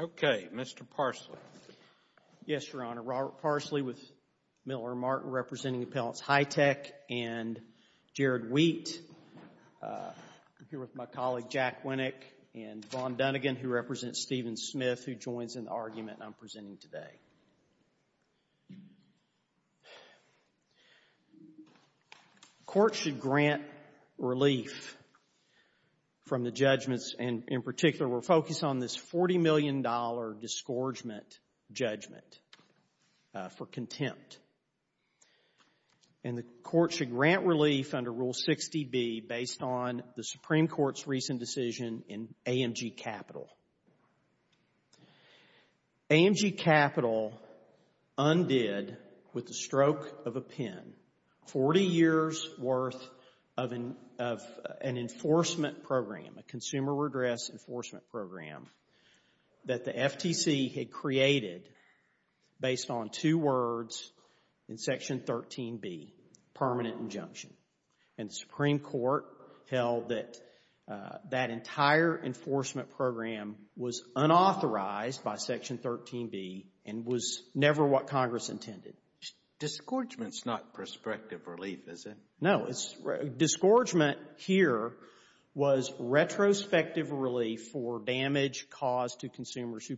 Okay. Mr. Parsley. Yes, Your Honor. Robert Parsley with Miller & Martin, representing Appellants Hi-Tech and Jared Wheat. I'm here with my colleague Jack Winnick and Vaughn Dunnegan, who represents Stephen Smith, who joins in the argument I'm presenting today. Court should grant relief from the judgments and, in particular, we're focused on this $40 million disgorgement judgment for contempt. And the court should grant relief under Rule 60B, based on the Supreme Court's recent decision in AMG Capital. AMG Capital undid with the stroke of a pen 40 years' worth of an enforcement program, a consumer redress enforcement program, that the FTC had created based on two words in Section 13B, permanent injunction. And the Supreme Court held that that entire enforcement program was unauthorized by Section 13B and was never what Congress intended. Disgorgement's not prospective relief, is it? No, disgorgement here was retrospective relief for damage caused to consumers who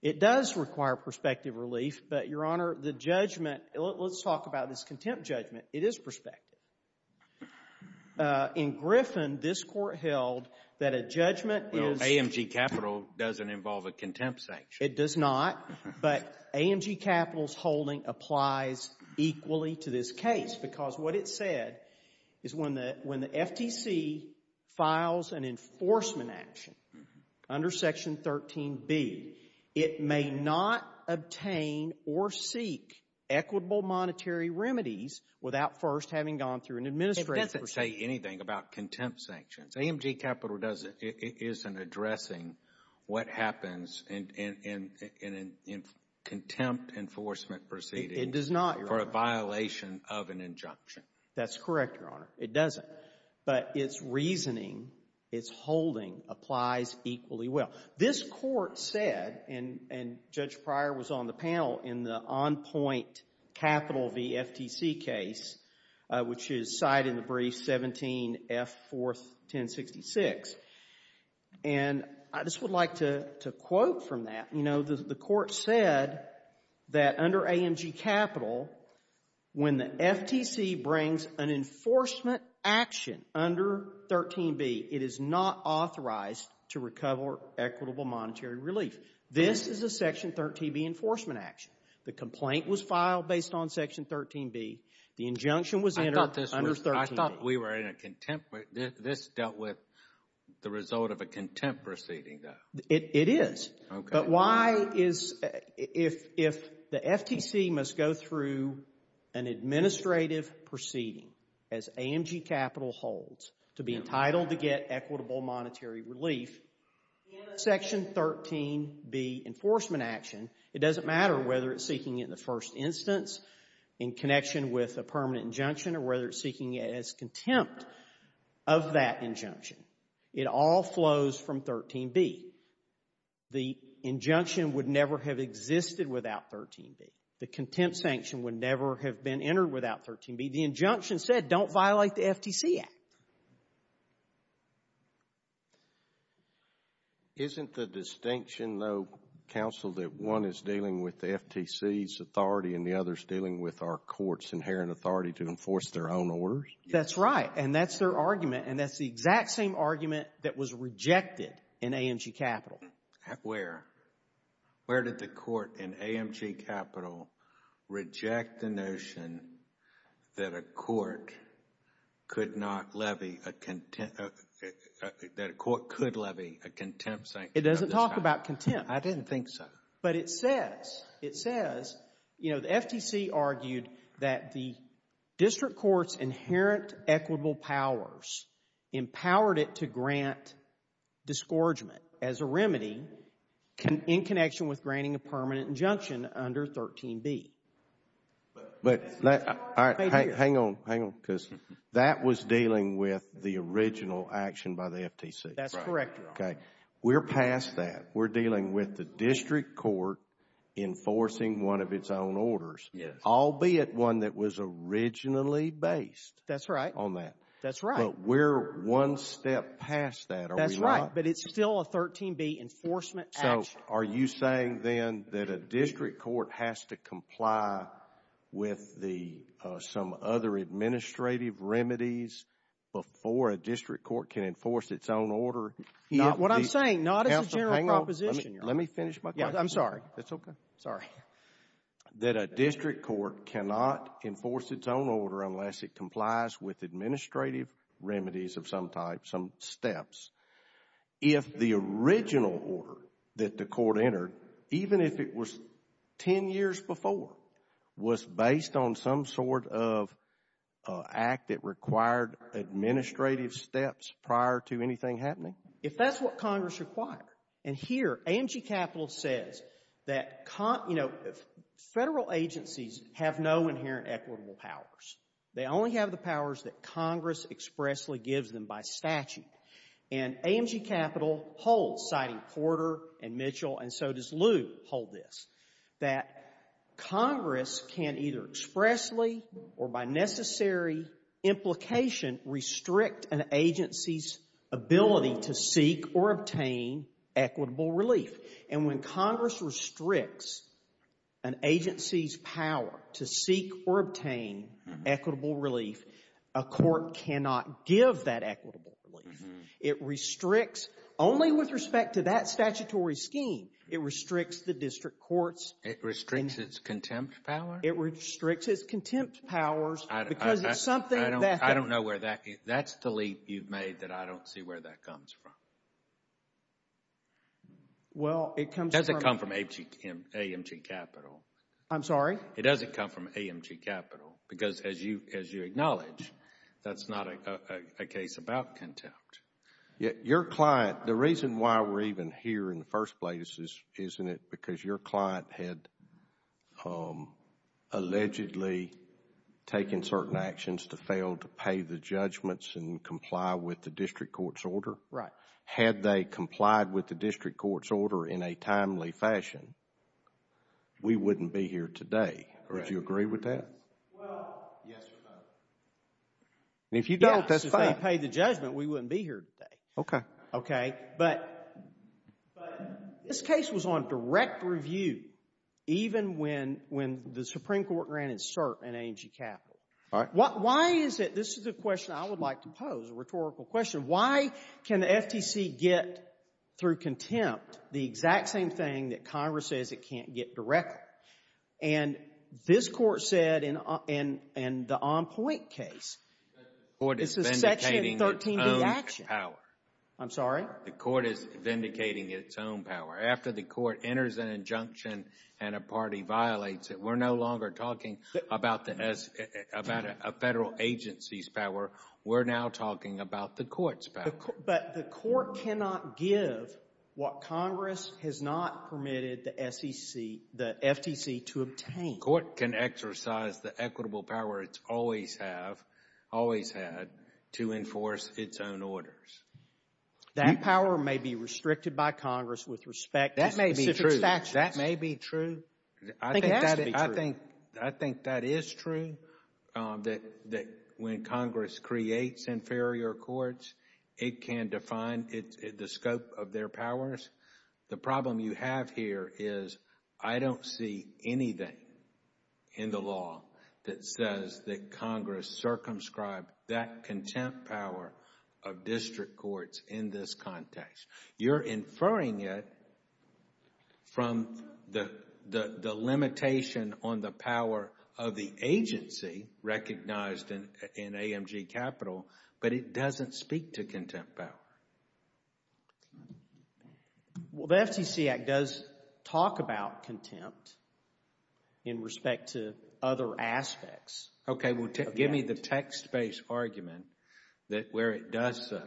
It does require prospective relief, but, Your Honor, the judgment, let's talk about this contempt judgment, it is prospective. In Griffin, this court held that a judgment is Well, AMG Capital doesn't involve a contempt sanction. It does not, but AMG Capital's holding applies equally to this case, because what it said is when the FTC files an enforcement action under Section 13B, it may not obtain or seek equitable monetary remedies without first having gone through an administrative procedure. It doesn't say anything about contempt sanctions. AMG Capital isn't addressing what happens in contempt enforcement proceedings. It does not, Your Honor, address the violation of an injunction. That's correct, Your Honor. It doesn't. But its reasoning, its holding, applies equally well. This court said, and Judge Pryor was on the panel in the on-point capital v. FTC case, which is cited in the brief 17F41066, and I just would like to quote from that. You know, the court said that under AMG Capital, when the FTC brings an enforcement action under 13B, it is not authorized to recover equitable monetary relief. This is a Section 13B enforcement action. The complaint was filed based on Section 13B. The injunction was entered under 13B. I thought we were in a contempt. This dealt with the result of a contempt proceeding, though. It is. Okay. But why is, if the FTC must go through an administrative proceeding, as AMG Capital holds, to be entitled to get equitable monetary relief, in a Section 13B enforcement action, it doesn't matter whether it's seeking it in the first instance, in connection with a permanent injunction, or whether it's seeking it as contempt of that injunction. It all flows from 13B. The injunction would never have existed without 13B. The contempt sanction would never have been entered without 13B. The injunction said, don't violate the FTC Act. Isn't the distinction, though, counsel, that one is dealing with the FTC's authority and the other is dealing with our court's inherent authority to enforce their own orders? That's right. And that's their argument. And that's the exact same argument that was rejected in AMG Capital. Where? Where did the court in AMG Capital reject the notion that a court could not levy a contempt, that a court could levy a contempt sanction? It doesn't talk about contempt. I didn't think so. But it says, it says, you know, the FTC argued that the district court's inherent equitable powers empowered it to grant disgorgement as a remedy in connection with granting a permanent injunction under 13B. But hang on, hang on, because that was dealing with the original action by the FTC. That's correct, Your Honor. Okay. We're past that. We're dealing with the district court enforcing one of its own orders, albeit one that was originally based on that. That's right. But we're one step past that, are we not? That's right. But it's still a 13B enforcement action. So are you saying then that a district court has to comply with the, some other administrative remedies before a district court can enforce its own order? What I'm saying, not as a general proposition, Your Honor. Let me finish my question. Yeah, I'm sorry. That's okay. Sorry. That a district court cannot enforce its own order unless it complies with administrative remedies of some type, some steps. If the original order that the court entered, even if it was 10 years before, was based on some sort of act that required administrative steps prior to anything happening? If that's what Congress required, and here AMG Capital says that, you know, Federal agencies have no inherent equitable powers. They only have the powers that Congress expressly gives them by statute. And AMG Capital holds, citing Porter and Mitchell, and so does Lew hold this, that Congress can either expressly or by necessary implication restrict an agency's ability to seek or obtain equitable relief. And when Congress restricts an agency's power to seek or obtain equitable relief, a court cannot give that equitable relief. It restricts only with respect to that statutory scheme. It restricts the district courts. It restricts its contempt power? It restricts its contempt powers because it's something that... I don't know where that, that's the leap you've made that I don't see where that comes from. Well, it comes from... Does it come from AMG Capital? I'm sorry? It doesn't come from AMG Capital because, as you acknowledge, that's not a case about contempt. Your client, the reason why we're even here in the first place isn't it because your client had allegedly taken certain actions to fail to pay the judgments and comply with the district court's order? Right. Had they complied with the district court's order in a timely fashion, we wouldn't be here today. Would you agree with that? Well, yes, Your Honor. And if you don't, that's fine. Yes, if they paid the judgment, we wouldn't be here today. Okay. Okay. But this case was on direct review even when the Supreme Court granted cert in AMG Capital. All right. Why is it, this is a question I would like to pose, a rhetorical question, why can the FTC get, through contempt, the exact same thing that Congress says it can't get directly? And this Court said in the En Pointe case... I'm sorry? The Court is vindicating its own power. After the Court enters an injunction and a party violates it, we're no longer talking about a Federal agency's power. We're now talking about the Court's power. But the Court cannot give what Congress has not permitted the FTC to obtain. The Court can exercise the equitable power it's always had to enforce its own orders. That power may be restricted by Congress with respect to specific statutes. That may be true. That may be true. I think it has to be true. I think that is true, that when Congress creates inferior courts, it can define the scope of their powers. The problem you have here is I don't see anything in the law that says that Congress circumscribed that contempt power of district courts in this context. You're inferring it from the limitation on the power of the agency recognized in AMG Capital, but it doesn't speak to contempt power. Well, the FTC Act does talk about contempt in respect to other aspects. Okay, well, give me the text-based argument that where it does so,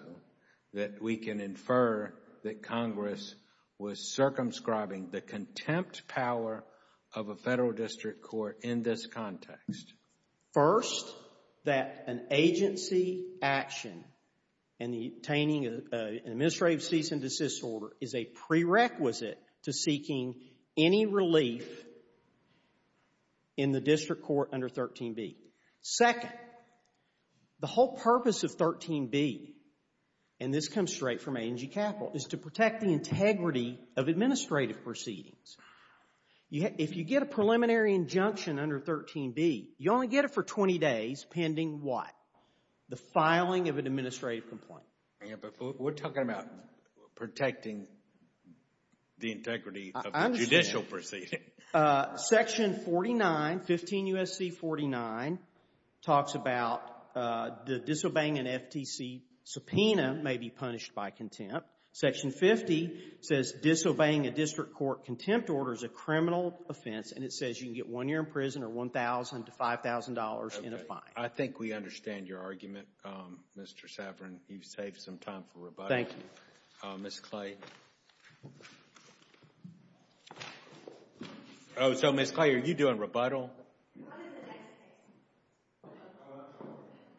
that we can infer that Congress was circumscribing the contempt power of a Federal district court in this context. First, that an agency action in obtaining an administrative cease and desist order is a prerequisite to seeking any relief in the district court under 13b. Second, the whole purpose of 13b, and this comes straight from AMG Capital, is to protect the integrity of administrative proceedings. If you get a preliminary injunction under 13b, you only get it for 20 days pending what? The filing of an administrative complaint. But we're talking about protecting the integrity of the judicial proceeding. Section 49, 15 U.S.C. 49, talks about the disobeying an FTC subpoena may be punished by contempt. Section 50 says disobeying a district court contempt order is a criminal offense, and it says you can get one year in prison or $1,000 to $5,000 in a fine. Okay. I think we understand your argument, Mr. Saverin. You've saved some time for rebuttal. Thank you. Ms. Clay. Oh, so Ms. Clay, are you doing rebuttal? What is the text-based?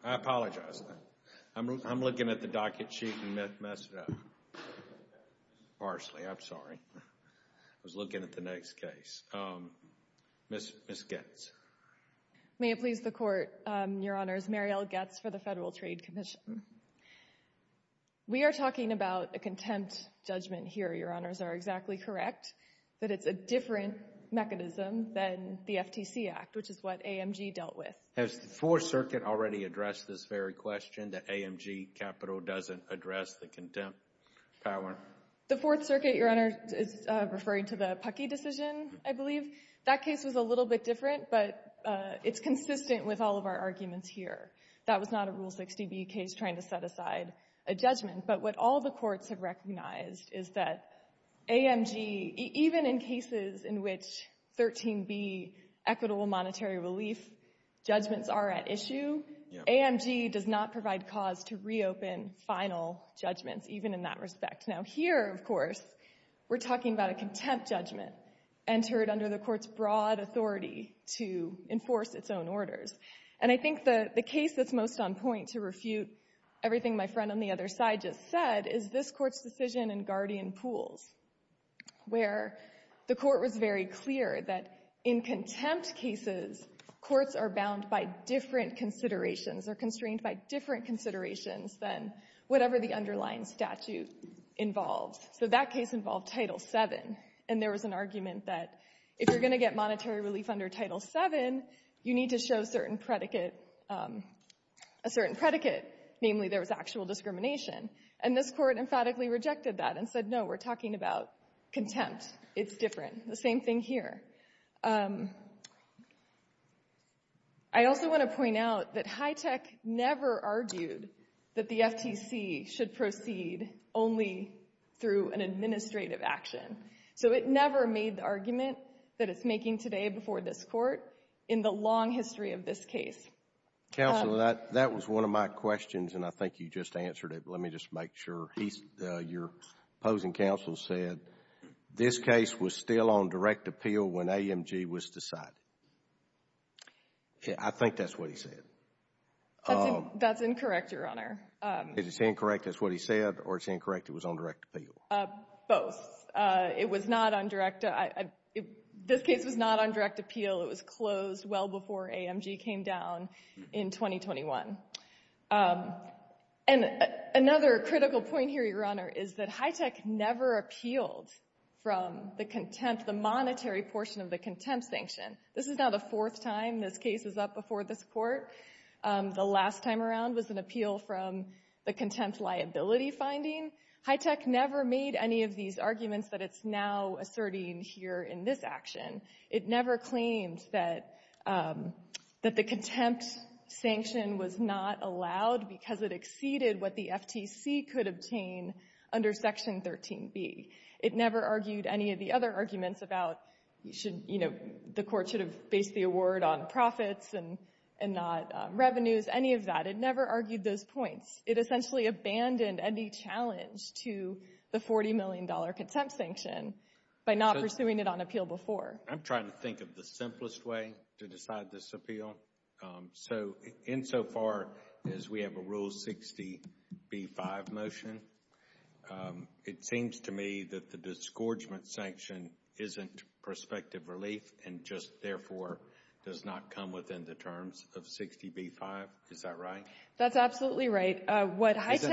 I apologize. I'm looking at the docket sheet and messed it up. Parsley. I'm sorry. I was looking at the next case. Ms. Goetz. May it please the Court, Your Honors, Mariel Goetz for the Federal Trade Commission. We are talking about a contempt judgment here, Your Honors, are exactly correct, that it's a different mechanism than the FTC Act, which is what AMG dealt with. Has the Fourth Circuit already addressed this very question, that AMG capital doesn't address the contempt power? The Fourth Circuit, Your Honor, is referring to the Pucky decision, I believe. That case was a little bit different, but it's consistent with all of our arguments here. That was not a Rule 60B case trying to set aside a judgment. But what all the courts have recognized is that AMG, even in cases in which 13b, equitable monetary relief judgments are at issue, AMG does not provide cause to reopen final judgments, even in that respect. Now here, of course, we're talking about a contempt judgment entered under the Court's broad authority to enforce its own orders. And I think the case that's most on point to refute everything my friend on the other side just said is this Court's decision in Guardian Pools, where the Court was very clear that in contempt cases, courts are bound by different considerations or constrained by different considerations than whatever the underlying statute involves. So that case involved Title VII. And there was an argument that if you're going to get monetary relief under Title VII, you need to show a certain predicate, namely there was actual discrimination. And this Court emphatically rejected that and said, no, we're talking about contempt. It's different. The same thing here. I also want to point out that HITECH never argued that the FTC should proceed only through an administrative action. So it never made the argument that it's making today before this Court in the long history of this case. Counsel, that was one of my questions, and I think you just answered it. Let me just make sure. Your opposing counsel said this case was still on direct appeal when AMG was decided. I think that's what he said. That's incorrect, Your Honor. Is it incorrect that's what he said, or is it incorrect it was on direct appeal? Both. It was not on direct. This case was not on direct appeal. It was closed well before AMG came down in 2021. And another critical point here, Your Honor, is that HITECH never appealed from the contempt, the monetary portion of the contempt sanction. This is now the fourth time this case is up before this Court. The last time around was an appeal from the contempt liability finding. HITECH never made any of these arguments that it's now asserting here in this action. It never claimed that the contempt sanction was not allowed because it exceeded what the FTC could obtain under Section 13b. It never argued any of the other arguments about, you know, the Court should have based the award on profits and not revenues, any of that. It never argued those points. It essentially abandoned any challenge to the $40 million contempt sanction by not I'm trying to think of the simplest way to decide this appeal. So insofar as we have a Rule 60b-5 motion, it seems to me that the disgorgement sanction isn't prospective relief and just therefore does not come within the terms of 60b-5. Is that right? That's absolutely right. Isn't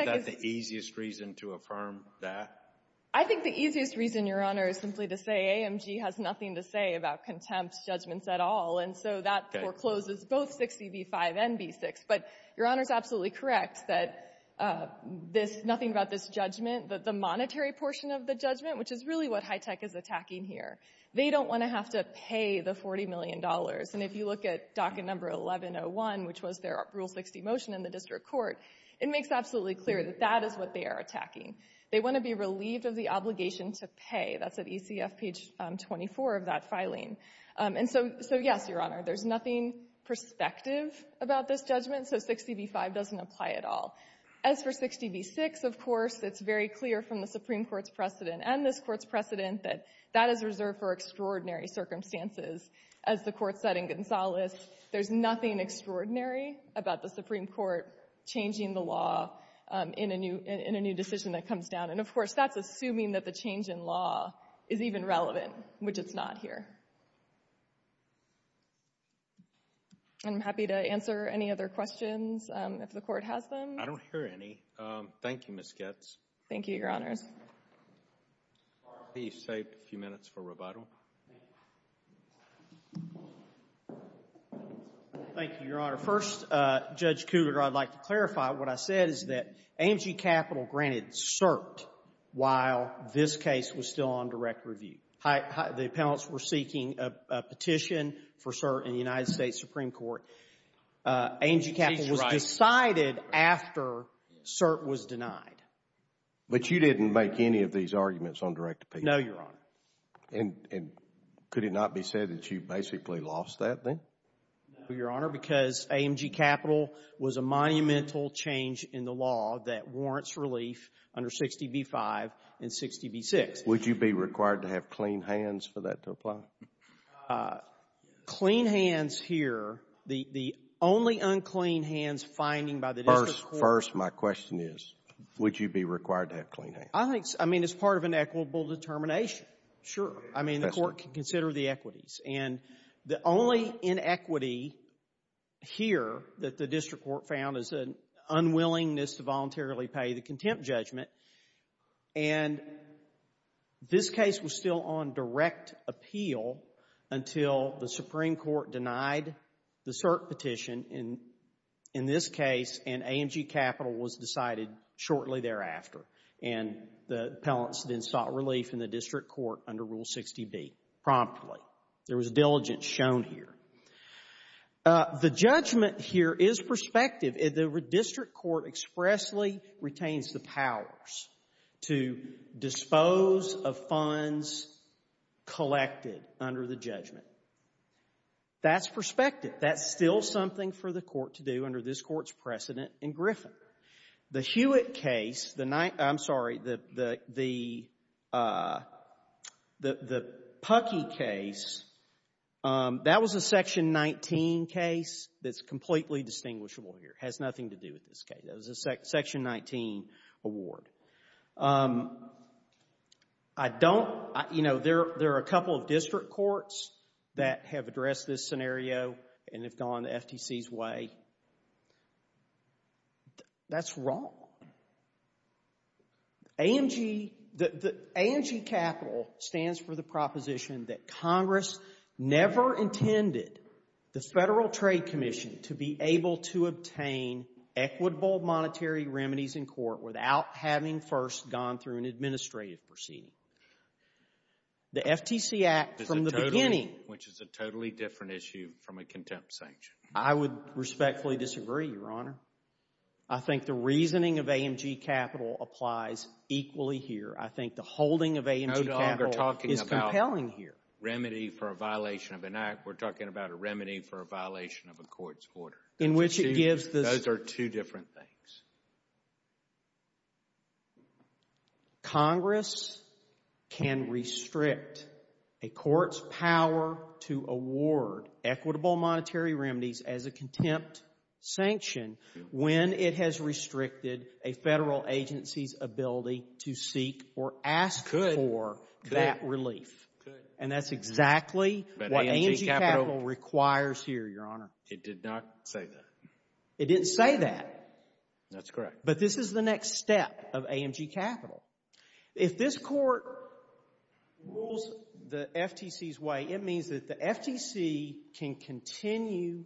that the easiest reason to affirm that? I think the easiest reason, Your Honor, is simply to say AMG has nothing to say about contempt judgments at all, and so that forecloses both 60b-5 and b-6. But Your Honor is absolutely correct that this — nothing about this judgment, the monetary portion of the judgment, which is really what HITECH is attacking here, they don't want to have to pay the $40 million. And if you look at docket number 1101, which was their Rule 60 motion in the district court, it makes absolutely clear that that is what they are attacking. They want to be relieved of the obligation to pay. That's at ECF page 24 of that filing. And so, yes, Your Honor, there's nothing prospective about this judgment, so 60b-5 doesn't apply at all. As for 60b-6, of course, it's very clear from the Supreme Court's precedent and this Court's precedent that that is reserved for extraordinary circumstances. As the Court said in Gonzales, there's nothing extraordinary about the Supreme Court changing the law in a new decision that comes down. And, of course, that's assuming that the change in law is even relevant, which it's not here. I'm happy to answer any other questions if the Court has them. I don't hear any. Thank you, Ms. Goetz. Thank you, Your Honors. Please save a few minutes for rebuttal. Thank you, Your Honor. First, Judge Cougar, I'd like to clarify what I said is that AMG Capital granted cert while this case was still on direct review. The appellants were seeking a petition for cert in the United States Supreme Court. AMG Capital was decided after cert was denied. But you didn't make any of these arguments on direct appeal? No, Your Honor. And could it not be said that you basically lost that, then? No, Your Honor, because AMG Capital was a monumental change in the law that warrants relief under 60b-5 and 60b-6. Would you be required to have clean hands for that to apply? Clean hands here, the only unclean hands finding by the district court First, my question is, would you be required to have clean hands? I think, I mean, it's part of an equitable determination, sure. I mean, the court can consider the equities. And the only inequity here that the district court found is an unwillingness to voluntarily pay the contempt judgment. And this case was still on direct appeal until the Supreme Court denied the cert petition in this case, and AMG Capital was decided shortly thereafter. And the appellants then sought relief in the district court under Rule 60b promptly. There was diligence shown here. The judgment here is prospective. The district court expressly retains the powers to dispose of funds collected under the judgment. That's prospective. That's still something for the court to do under this court's precedent in Griffin. The Hewitt case, I'm sorry, the Puckey case, that was a Section 19 case that's completely distinguishable here. It has nothing to do with this case. That was a Section 19 award. I don't, you know, there are a couple of district courts that have addressed this That's wrong. AMG Capital stands for the proposition that Congress never intended the Federal Trade Commission to be able to obtain equitable monetary remedies in court without having first gone through an administrative proceeding. The FTC Act from the beginning. Which is a totally different issue from a contempt sanction. I would respectfully disagree, Your Honor. I think the reasoning of AMG Capital applies equally here. I think the holding of AMG Capital is compelling here. No longer talking about remedy for a violation of an act. We're talking about a remedy for a violation of a court's order. In which it gives the Those are two different things. Congress can restrict a court's power to award equitable monetary remedies as a contempt sanction when it has restricted a Federal agency's ability to seek or ask Could. For that relief. Could. And that's exactly what AMG Capital requires here, Your Honor. It did not say that. It didn't say that. That's correct. But this is the next step of AMG Capital. If this court rules the FTC's way, it means that the FTC can continue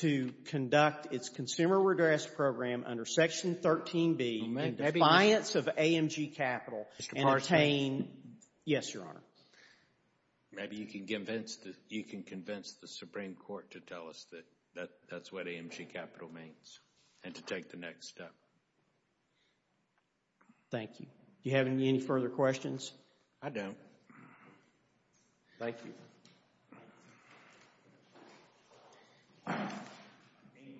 to conduct its consumer redress program under Section 13B in defiance of AMG Capital and obtain Mr. Parsons. Yes, Your Honor. Maybe you can convince the Supreme Court to tell us that that's what AMG Capital means. And to take the next step. Thank you. Do you have any further questions? I don't. Thank you.